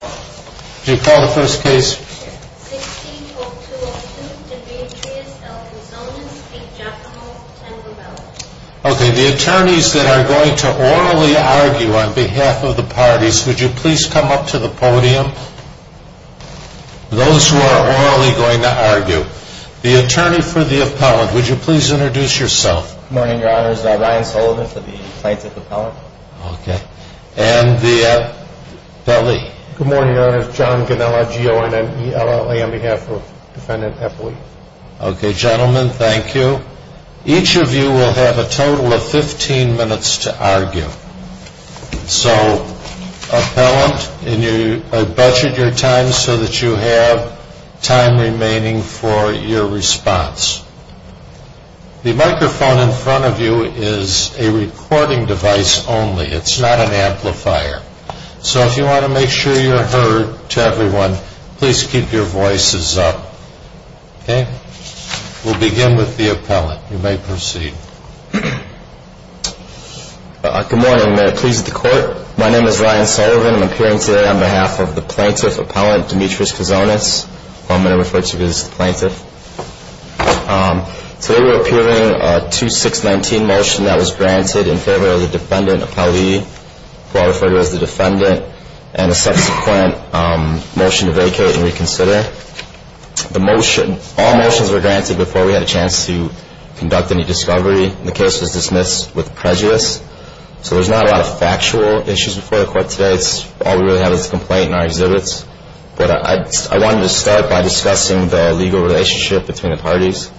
The attorneys that are going to orally argue on behalf of the parties, would you please come up to the podium? Those who are orally going to argue. The attorney for the appellant, would you please introduce yourself? Good morning your honors, Ryan Sullivan for the plaintiff appellant. Okay, and the appellee. Good morning your honors, John Ganella, G-O-N-L-E-L-L-A on behalf of defendant appellee. Okay gentlemen, thank you. Each of you will have a total of 15 minutes to argue. So, appellant, I've budgeted your time so that you have time remaining for your response. The microphone in front of you is a recording device only, it's not an amplifier. So if you want to make sure you're heard to everyone, please keep your voices up. Okay, we'll begin with the appellant, you may proceed. Good morning, may I please the court? My name is Ryan Sullivan, I'm appearing today on behalf of the plaintiff appellant, Demetrius Gozonis. I'm going to refer to you as the plaintiff. Today we're appealing a 2-6-19 motion that was granted in favor of the defendant appellee, who I'll refer to as the defendant, and a subsequent motion to vacate and reconsider. The motion, all motions were granted before we had a chance to conduct any discovery. The case was dismissed with prejudice, so there's not a lot of factual issues before the court today. In our exhibits, all we really have is a complaint in our exhibits, but I wanted to start by discussing the legal relationship between the parties.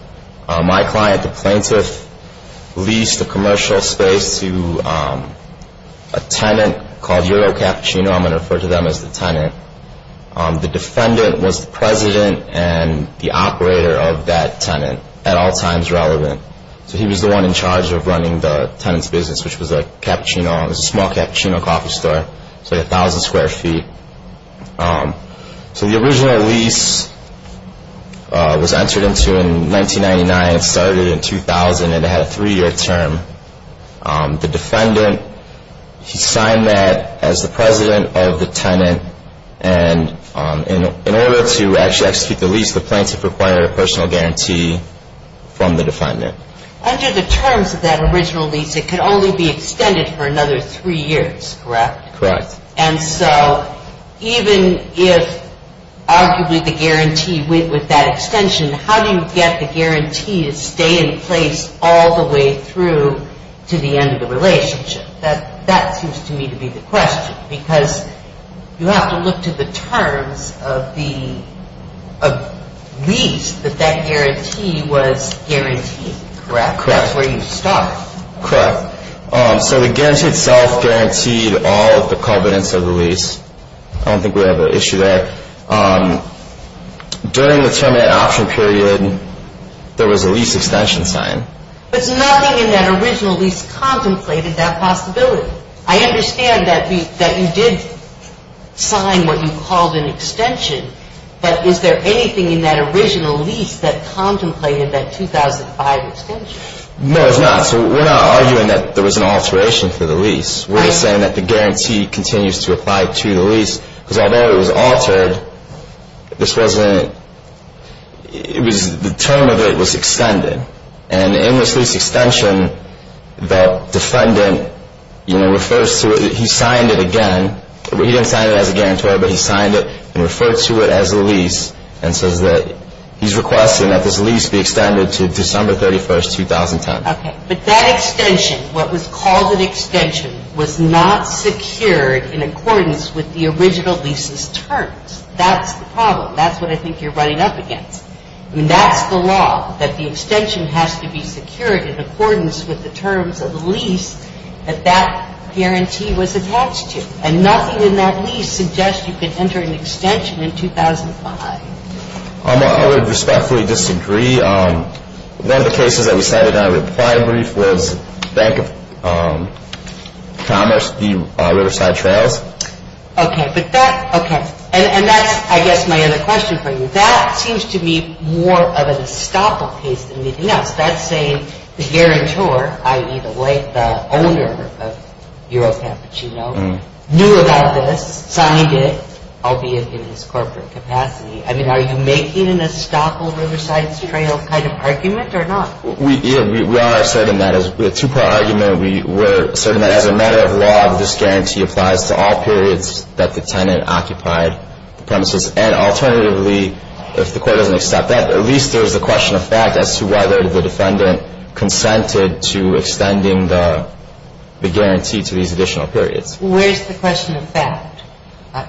My client, the plaintiff, leased a commercial space to a tenant called Euro Cappuccino, I'm going to refer to them as the tenant. The defendant was the president and the operator of that tenant, at all times relevant. So he was the one in charge of running the tenant's business, which was a small cappuccino coffee store, it was like 1,000 square feet. So the original lease was entered into in 1999, it started in 2000, and it had a three-year term. The defendant, he signed that as the president of the tenant, and in order to actually execute the lease, the plaintiff required a personal guarantee from the defendant. Under the terms of that original lease, it could only be extended for another three years, correct? Correct. And so even if, arguably, the guarantee with that extension, how do you get the guarantee to stay in place all the way through to the end of the relationship? That seems to me to be the question. Because you have to look to the terms of the lease that that guarantee was guaranteed, correct? Correct. That's where you start. Correct. So the guarantee itself guaranteed all of the covenants of the lease. I don't think we have an issue there. During the term of that option period, there was a lease extension signed. But nothing in that original lease contemplated that possibility. I understand that you did sign what you called an extension, but is there anything in that original lease that contemplated that 2005 extension? No, there's not. So we're not arguing that there was an alteration to the lease. We're just saying that the guarantee continues to apply to the lease, because although it was altered, the term of it was extended. And in this lease extension, the defendant refers to it. He signed it again. He didn't sign it as a guarantor, but he signed it and referred to it as a lease and says that he's requesting that this lease be extended to December 31, 2010. Okay. But that extension, what was called an extension, was not secured in accordance with the original lease's terms. That's the problem. That's what I think you're running up against. I mean, that's the law, that the extension has to be secured in accordance with the terms of the lease that that guarantee was attached to. And nothing in that lease suggests you can enter an extension in 2005. I would respectfully disagree. One of the cases that we cited in our reply brief was Bank of Commerce v. Riverside Trails. Okay. And that's, I guess, my other question for you. That seems to me more of an estoppel case than anything else. That's saying the guarantor, i.e., the owner of EuroCampicino, knew about this, signed it, albeit in his corporate capacity. I mean, are you making an estoppel Riverside Trail kind of argument or not? We are asserting that. It's a two-part argument. We're asserting that as a matter of law, this guarantee applies to all periods that the tenant occupied the premises. And alternatively, if the court doesn't accept that, at least there's a question of fact as to whether the defendant consented to extending the guarantee to these additional periods. Where's the question of fact? Well,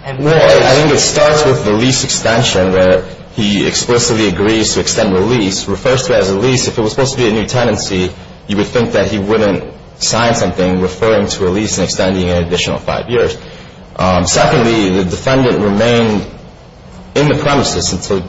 I think it starts with the lease extension where he explicitly agrees to extend the lease, refers to it as a lease. If it was supposed to be a new tenancy, you would think that he wouldn't sign something referring to a lease and extending it an additional five years. Secondly, the defendant remained in the premises until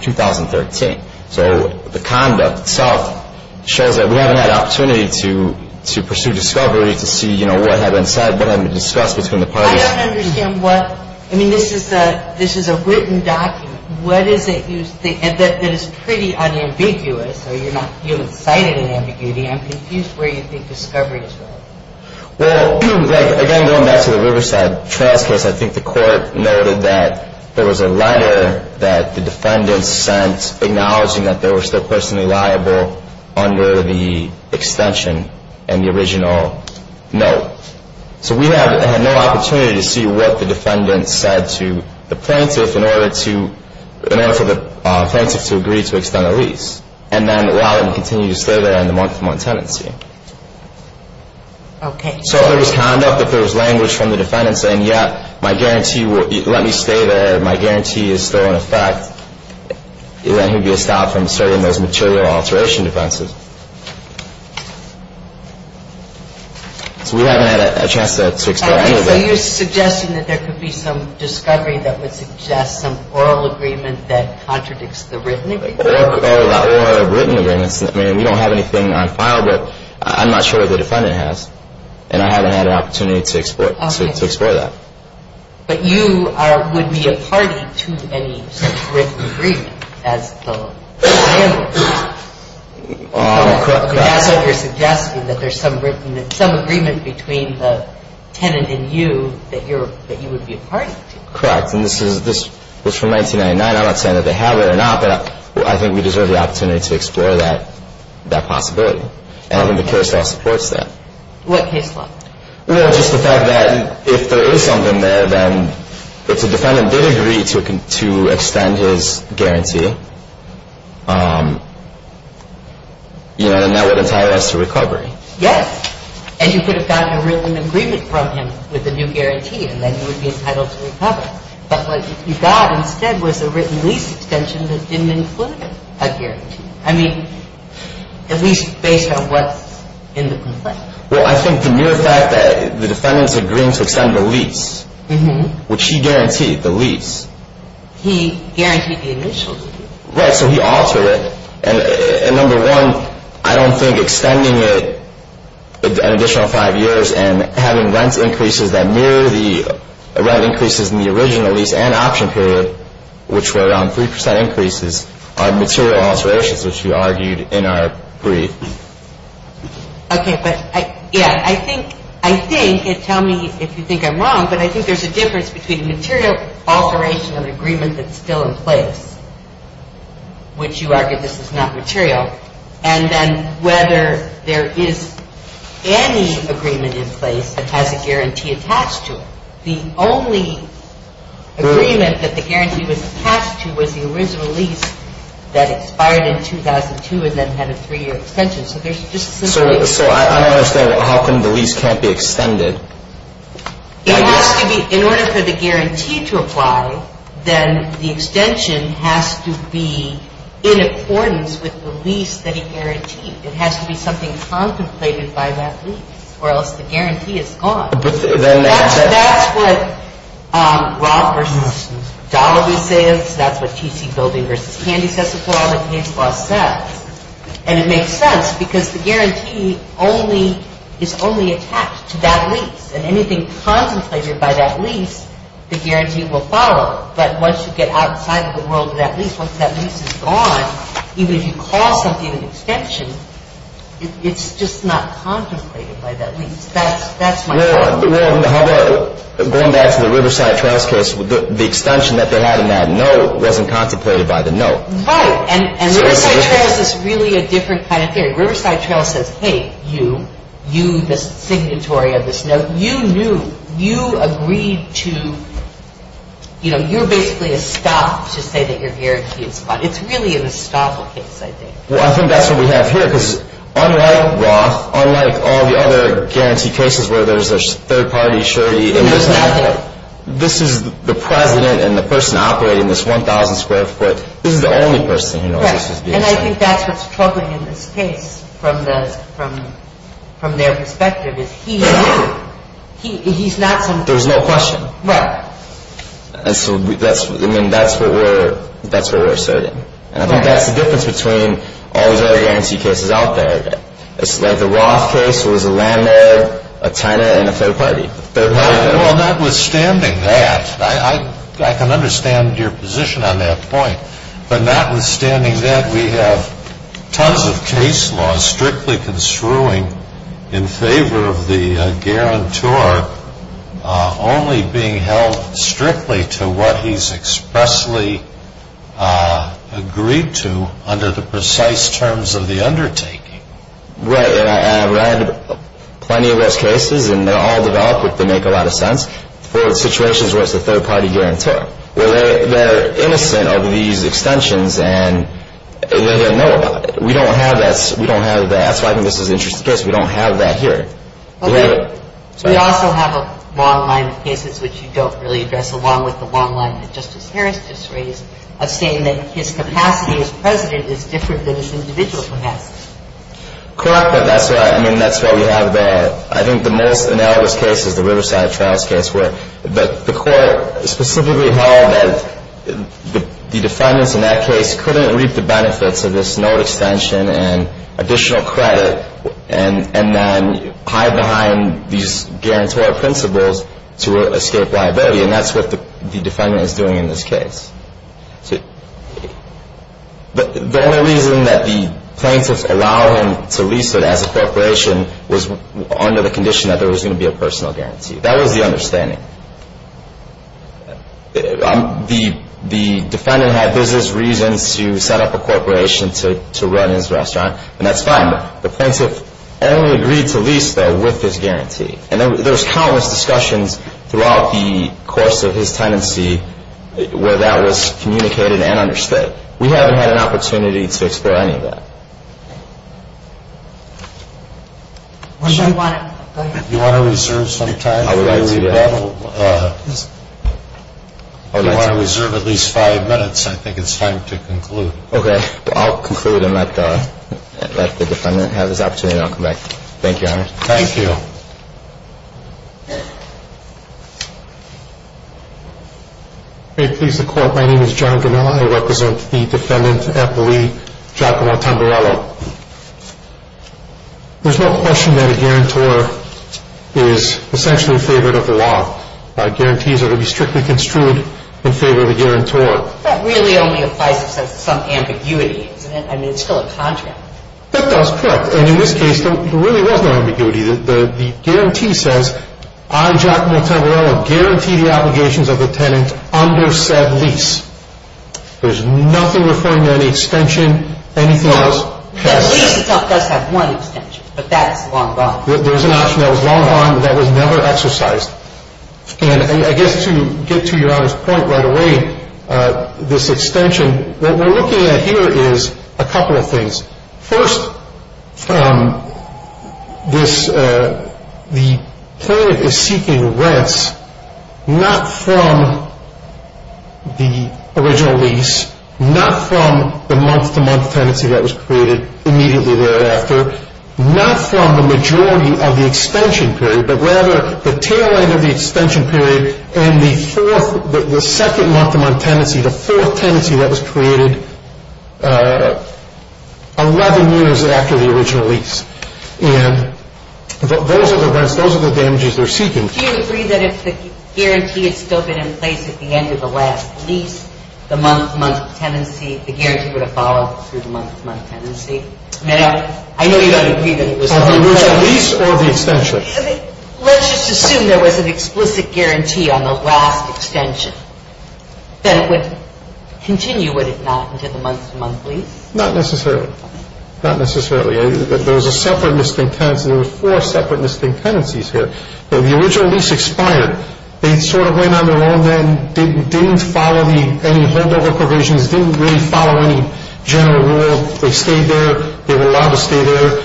2013. So the conduct itself shows that we haven't had an opportunity to pursue discovery, to see what had been said, what had been discussed between the parties. I don't understand what – I mean, this is a written document. What is it that is pretty unambiguous? You haven't cited an ambiguity. I'm confused where you think discovery is going. Well, again, going back to the Riverside Trail case, I think the court noted that there was a letter that the defendant sent acknowledging that they were still personally liable under the extension and the original note. So we have had no opportunity to see what the defendant said to the plaintiff in order for the plaintiff to agree to extend the lease and then allow them to continue to stay there in the month-to-month tenancy. Okay. So if there was conduct, if there was language from the defendant saying, yes, my guarantee, let me stay there, my guarantee is still in effect, then he would be stopped from serving those material alteration defenses. So we haven't had a chance to explore any of that. So you're suggesting that there could be some discovery that would suggest some oral agreement that contradicts the written agreement? Or written agreements. I mean, we don't have anything on file, but I'm not sure the defendant has, and I haven't had an opportunity to explore that. Okay. But you would be a party to any written agreement as the landlord. Correct. So you're suggesting that there's some agreement between the tenant and you that you would be a party to. Correct. And this was from 1999. I'm not saying that they have it or not, but I think we deserve the opportunity to explore that possibility. And I think the case law supports that. What case law? Well, just the fact that if there is something there, then if the defendant did agree to extend his guarantee, then that would entitle us to recovery. Yes. And you could have gotten a written agreement from him with a new guarantee, and then you would be entitled to recover. But what you got instead was a written lease extension that didn't include a guarantee. I mean, at least based on what's in the complaint. Well, I think the mere fact that the defendant is agreeing to extend the lease, which he guaranteed, the lease. He guaranteed the initial lease. Right. So he altered it. And number one, I don't think extending it an additional five years and having rent increases that mirror the rent increases in the original lease and option period, which were around 3% increases, are material alterations, which we argued in our brief. Okay. But, yeah, I think, and tell me if you think I'm wrong, but I think there's a difference between material alteration of an agreement that's still in place, which you argue this is not material, and then whether there is any agreement in place that has a guarantee attached to it. The only agreement that the guarantee was attached to was the original lease that expired in 2002 and then had a three-year extension. So there's just a similarity. So I don't understand how come the lease can't be extended. It has to be. In order for the guarantee to apply, then the extension has to be in accordance with the lease that he guaranteed. It has to be something contemplated by that lease or else the guarantee is gone. But then that's it. And it makes sense because the guarantee is only attached to that lease, and anything contemplated by that lease, the guarantee will follow. But once you get outside of the world of that lease, once that lease is gone, even if you call something an extension, it's just not contemplated by that lease. That's my problem. Well, going back to the Riverside trials case, the extension that they had in that note wasn't contemplated by the note. Right. And Riverside trials is really a different kind of theory. Riverside trials says, hey, you, you, the signatory of this note, you knew, you agreed to, you know, you're basically a stop to say that your guarantee is gone. It's really an estoppel case, I think. Well, I think that's what we have here because unlike Roth, unlike all the other guarantee cases where there's a third-party surety, this is the president and the person operating this 1,000-square-foot, this is the only person who knows this is being signed. Right, and I think that's what's troubling in this case from the, from their perspective is he knew. He's not some... There's no question. Right. And so that's, I mean, that's what we're, that's what we're asserting. And I think that's the difference between all these other guarantee cases out there. It's like the Roth case was a landlord, a tenant, and a third-party. Well, notwithstanding that, I can understand your position on that point. But notwithstanding that, we have tons of case laws strictly construing in favor of the guarantor only being held strictly to what he's expressly agreed to under the precise terms of the undertaking. Right, and I've read plenty of those cases, and they're all developed, but they make a lot of sense for situations where it's a third-party guarantor. Well, they're innocent of these extensions, and they don't know about it. We don't have that, so I think this is an interesting case. We don't have that here. We also have a long line of cases which you don't really address, along with the long line that Justice Harris just raised of saying that his capacity as president is different than his individual capacity. Correct, but that's what we have there. I think the most analogous case is the Riverside Trials case where the court specifically held that the defendants in that case couldn't reap the benefits of this note extension and additional credit and then hide behind these guarantor principles to escape liability, and that's what the defendant is doing in this case. The only reason that the plaintiffs allow him to lease it as a corporation was under the condition that there was going to be a personal guarantee. That was the understanding. The defendant had business reasons to set up a corporation to run his restaurant, and that's fine. The plaintiff only agreed to lease that with his guarantee, and there was countless discussions throughout the course of his tenancy where that was communicated and understood. We haven't had an opportunity to explore any of that. You want to reserve some time? I would like to. If you want to reserve at least five minutes, I think it's time to conclude. Okay. I'll conclude and let the defendant have his opportunity, and I'll come back. Thank you, Your Honor. Thank you. May it please the Court. My name is John Gamella. I represent the defendant at the lease, Giacomo Tamburello. There's no question that a guarantor is essentially in favor of the law. Guarantees are to be strictly construed in favor of the guarantor. That really only applies if there's some ambiguity. I mean, it's still a contract. And in this case, there really was no ambiguity. The guarantee says, I, Giacomo Tamburello, guarantee the obligations of the tenant under said lease. There's nothing referring to any extension, anything else. Well, the lease itself does have one extension, but that is long gone. There's an option that was long gone, but that was never exercised. And I guess to get to Your Honor's point right away, this extension, what we're looking at here is a couple of things. First, the tenant is seeking rents not from the original lease, not from the month-to-month tenancy that was created immediately thereafter, not from the majority of the extension period, but rather the tail end of the extension period and the second month-to-month tenancy, the fourth tenancy that was created 11 years after the original lease. And those are the rents. Those are the damages they're seeking. Do you agree that if the guarantee had still been in place at the end of the last lease, the month-to-month tenancy, the guarantee would have followed through the month-to-month tenancy? No. I know you don't agree that it was the original lease or the extension. Let's just assume there was an explicit guarantee on the last extension. Then it would continue, would it not, into the month-to-month lease? Not necessarily. Not necessarily. There was a separate missing tenancy. There were four separate missing tenancies here. The original lease expired. They sort of went on their own then, didn't follow any holdover provisions, didn't really follow any general rule. They stayed there. They were allowed to stay there.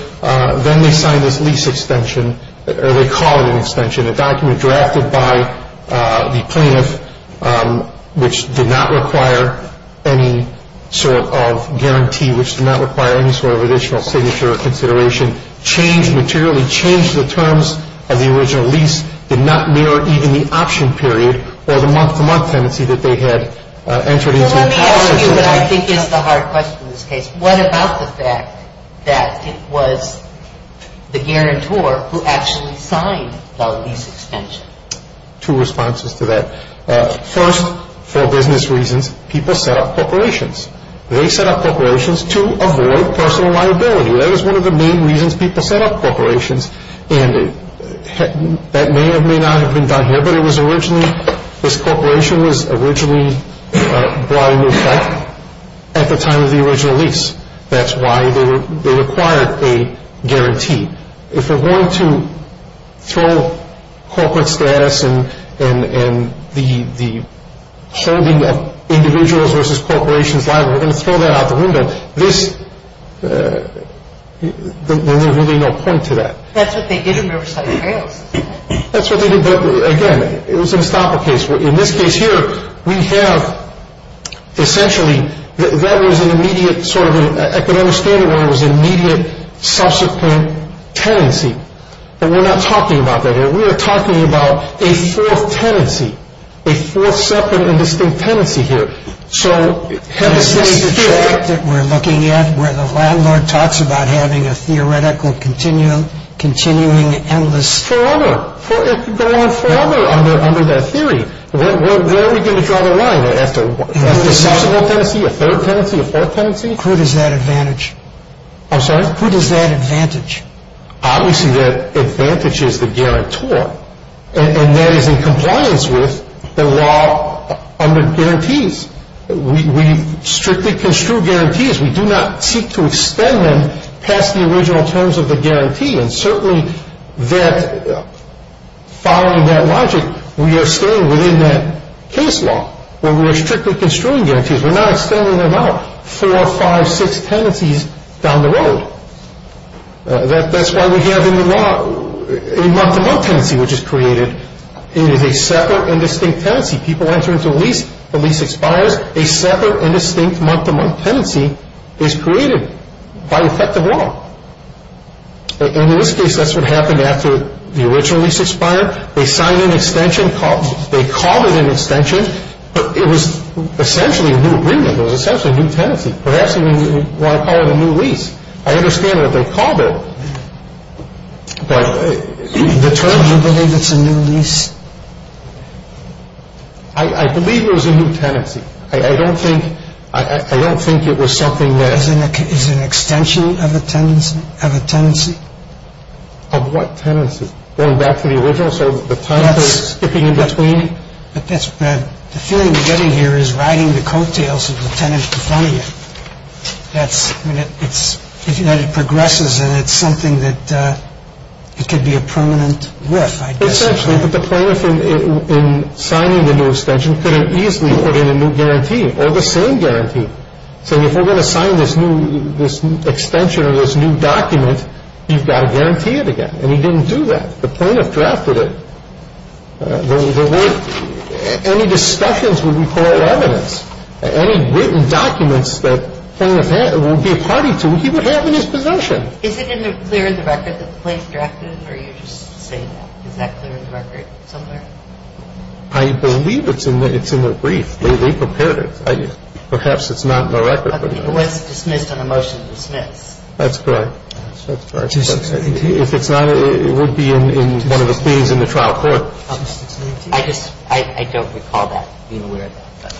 Then they signed this lease extension, or they called it an extension, a document drafted by the plaintiff which did not require any sort of guarantee, which did not require any sort of additional signature or consideration, changed materially, changed the terms of the original lease, did not mirror even the option period or the month-to-month tenancy that they had entered into. Let me ask you what I think is the hard question in this case. What about the fact that it was the guarantor who actually signed the lease extension? Two responses to that. First, for business reasons, people set up corporations. They set up corporations to avoid personal liability. That was one of the main reasons people set up corporations, and that may or may not have been done here, but this corporation was originally brought into effect at the time of the original lease. That's why they required a guarantee. If we're going to throw corporate status and the holding of individuals versus corporations, we're going to throw that out the window. There's really no point to that. That's what they did in Riverside Apprails. That's what they did, but, again, it was an estoppel case. In this case here, we have, essentially, that was an immediate sort of an economic standard where it was an immediate subsequent tenancy, but we're not talking about that here. We are talking about a fourth tenancy, a fourth separate and distinct tenancy here. Is this the track that we're looking at where the landlord talks about having a theoretical continuing endless? Forever. It could go on forever under that theory. Where are we going to draw the line after a subsequent tenancy, a third tenancy, a fourth tenancy? Who does that advantage? I'm sorry? Who does that advantage? Obviously, that advantage is the guarantor, and that is in compliance with the law under guarantees. We strictly construe guarantees. We do not seek to extend them past the original terms of the guarantee, and certainly that following that logic, we are staying within that case law where we are strictly construing guarantees. We're not extending them out four, five, six tenancies down the road. That's why we have in the law a month-to-month tenancy which is created. It is a separate and distinct tenancy. People enter into a lease. The lease expires. A separate and distinct month-to-month tenancy is created by effective law. In this case, that's what happened after the original lease expired. They signed an extension. They called it an extension, but it was essentially a new agreement. It was essentially a new tenancy. Perhaps you want to call it a new lease. I understand that they called it, but the term… Do you believe it's a new lease? I believe it was a new tenancy. I don't think it was something that… Is it an extension of a tenancy? Of what tenancy? Going back to the original? So the tenancy is skipping in between? The feeling we're getting here is riding the coattails of the tenancy in front of you. It progresses, and it's something that could be a permanent whiff, I guess. Essentially, but the plaintiff in signing the new extension couldn't easily put in a new guarantee or the same guarantee, saying if we're going to sign this extension or this new document, you've got to guarantee it again. And he didn't do that. The plaintiff drafted it. Any discussions would be full of evidence. Any written documents that the plaintiff would be a party to, he would have in his possession. Is it clear in the record that the plaintiff drafted it, or are you just saying that? Is that clear in the record somewhere? I believe it's in the brief. They prepared it. Perhaps it's not in the record. It was dismissed on a motion to dismiss. That's correct. If it's not, it would be in one of the things in the trial court. I just, I don't recall that being aware of that.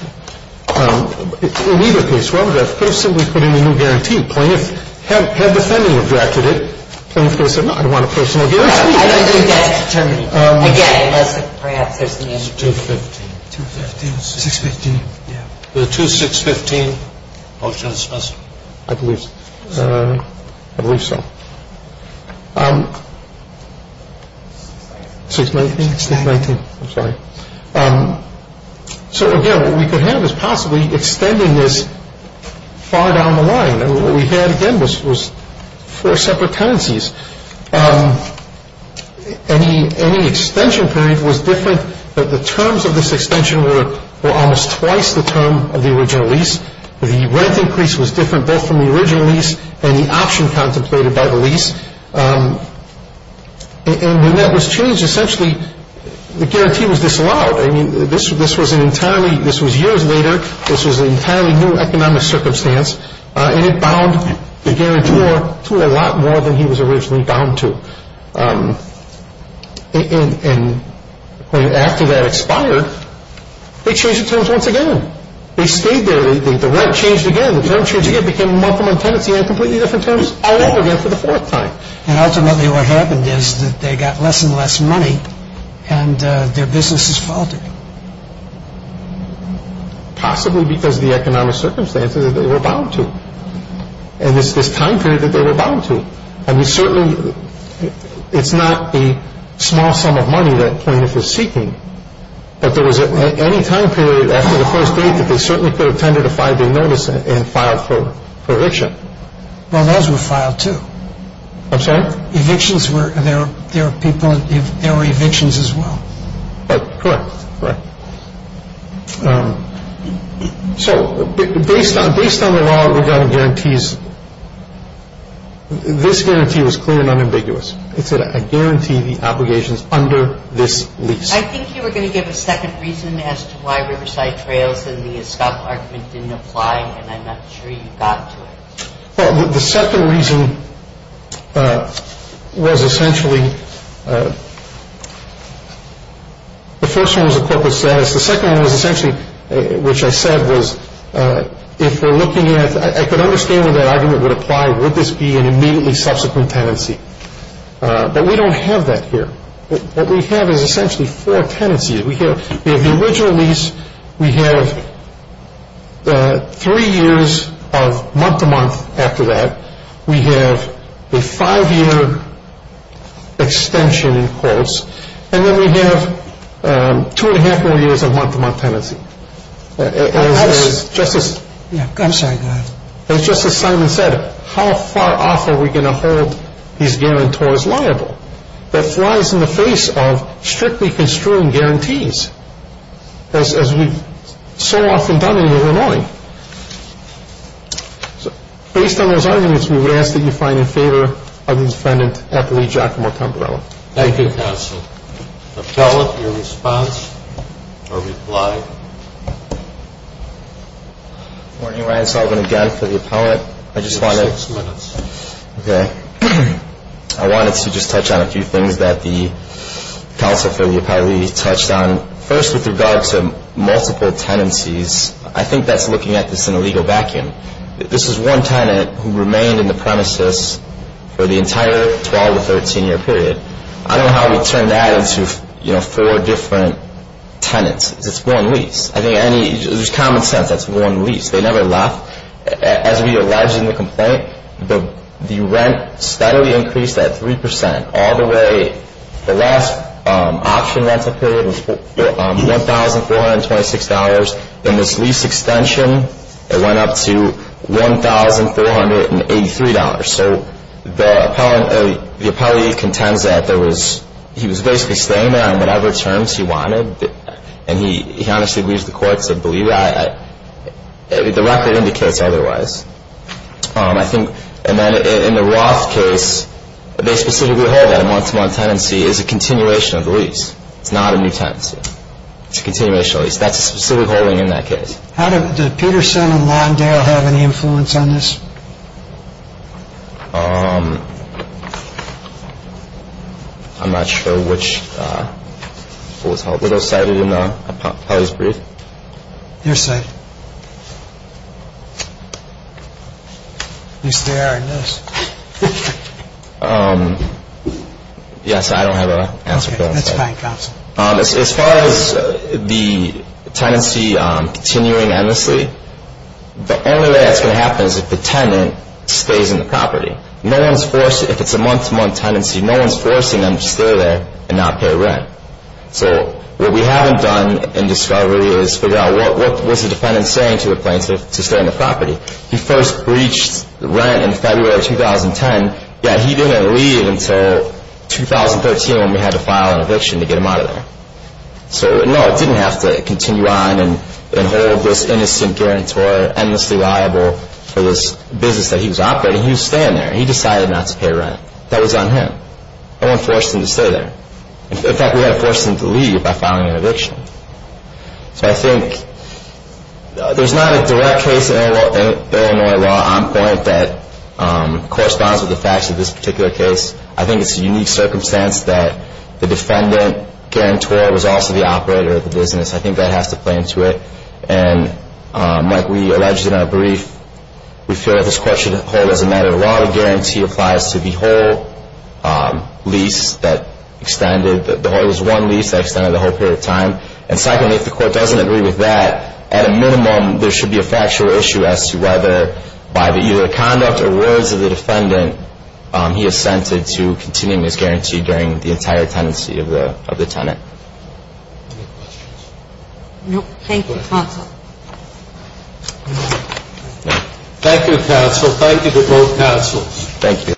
In either case, Robert, I could have simply put in a new guarantee. The plaintiff, had the defendant drafted it, the plaintiff would have said, no, I don't want a personal guarantee. I don't think that's determined. Again, perhaps there's an issue. 215. 215, 615. Yeah. The 2615 motion is dismissed. I believe so. 619. 619. 619. I'm sorry. So, again, what we could have is possibly extending this far down the line. And what we had, again, was four separate tenancies. Any extension period was different. The terms of this extension were almost twice the term of the original lease. The rent increase was different both from the original lease and the option contemplated by the lease. And when that was changed, essentially, the guarantee was disallowed. I mean, this was an entirely, this was years later, this was an entirely new economic circumstance, and it bound the guarantor to a lot more than he was originally bound to. And after that expired, they changed the terms once again. They stayed there. The rent changed again. The terms changed again. It became a month-long tenancy on completely different terms all over again for the fourth time. And ultimately what happened is that they got less and less money and their businesses faltered. Possibly because of the economic circumstances that they were bound to and it's this time period that they were bound to. I mean, certainly it's not a small sum of money that plaintiff is seeking, but there was any time period after the first date that they certainly could have tended to five-day notice and filed for eviction. Well, those were filed too. I'm sorry? Evictions were, there were people, there were evictions as well. Correct, correct. So based on the law regarding guarantees, this guarantee was clear and unambiguous. It said, I guarantee the obligations under this lease. I think you were going to give a second reason as to why Riverside Trails and the Escobar argument didn't apply and I'm not sure you got to it. Well, the second reason was essentially, the first one was the corporate status. The second one was essentially, which I said was, if we're looking at, I could understand when that argument would apply, would this be an immediately subsequent tenancy. But we don't have that here. What we have is essentially four tenancies. We have the original lease. We have three years of month-to-month after that. We have a five-year extension in quotes. And then we have two and a half more years of month-to-month tenancy. I'm sorry, go ahead. As Justice Simon said, how far off are we going to hold these guarantors liable? That flies in the face of strictly construing guarantees, as we've so often done in Illinois. Based on those arguments, we would ask that you find in favor of the defendant, Appellee Giacomo Tamparello. Thank you, counsel. Appellate, your response or reply? Good morning, Ryan Sullivan again for the appellate. You have six minutes. Okay. I wanted to just touch on a few things that the counsel for the appellee touched on. First, with regard to multiple tenancies, I think that's looking at this in a legal vacuum. This is one tenant who remained in the premises for the entire 12- to 13-year period. I don't know how we turned that into four different tenants. It's one lease. I think there's common sense. That's one lease. They never left. As we allege in the complaint, the rent steadily increased at 3% all the way. The last option rental period was $1,426. Then this lease extension, it went up to $1,483. So the appellee contends that he was basically staying there on whatever terms he wanted, and he honestly agrees with the court. The record indicates otherwise. And then in the Roth case, they specifically hold that a once-a-month tenancy is a continuation of the lease. It's not a new tenancy. It's a continuation of the lease. That's a specific holding in that case. Did Peterson and Londale have any influence on this? I'm not sure which was cited in the appellee's brief. Your side. You stare at this. Yes, I don't have an answer to that. Okay. That's fine, counsel. As far as the tenancy continuing endlessly, the only way that's going to happen is if the tenant stays in the property. If it's a month-to-month tenancy, no one's forcing them to stay there and not pay rent. So what we haven't done in discovery is figure out what was the defendant saying to the plaintiff to stay on the property. He first breached rent in February of 2010, yet he didn't leave until 2013 when we had to file an eviction to get him out of there. So, no, it didn't have to continue on and hold this innocent guarantor endlessly liable for this business that he was operating. He was staying there. He decided not to pay rent. That was on him. No one forced him to stay there. In fact, we had to force him to leave by filing an eviction. So I think there's not a direct case in Illinois law on point that corresponds with the facts of this particular case. I think it's a unique circumstance that the defendant guarantor was also the operator of the business. I think that has to play into it. And like we alleged in our brief, we feel that this court should hold as a matter of law. And secondly, if the court doesn't agree with the lease, the whole guarantee applies to the whole lease that extended the whole time. And secondly, if the court doesn't agree with that, at a minimum, there should be a factual issue as to whether, by the either conduct or words of the defendant, he assented to continuing his guarantee during the entire tenancy of the tenant. Thank you, counsel. Thank you, counsel. Thank you to both counsels. Thank you.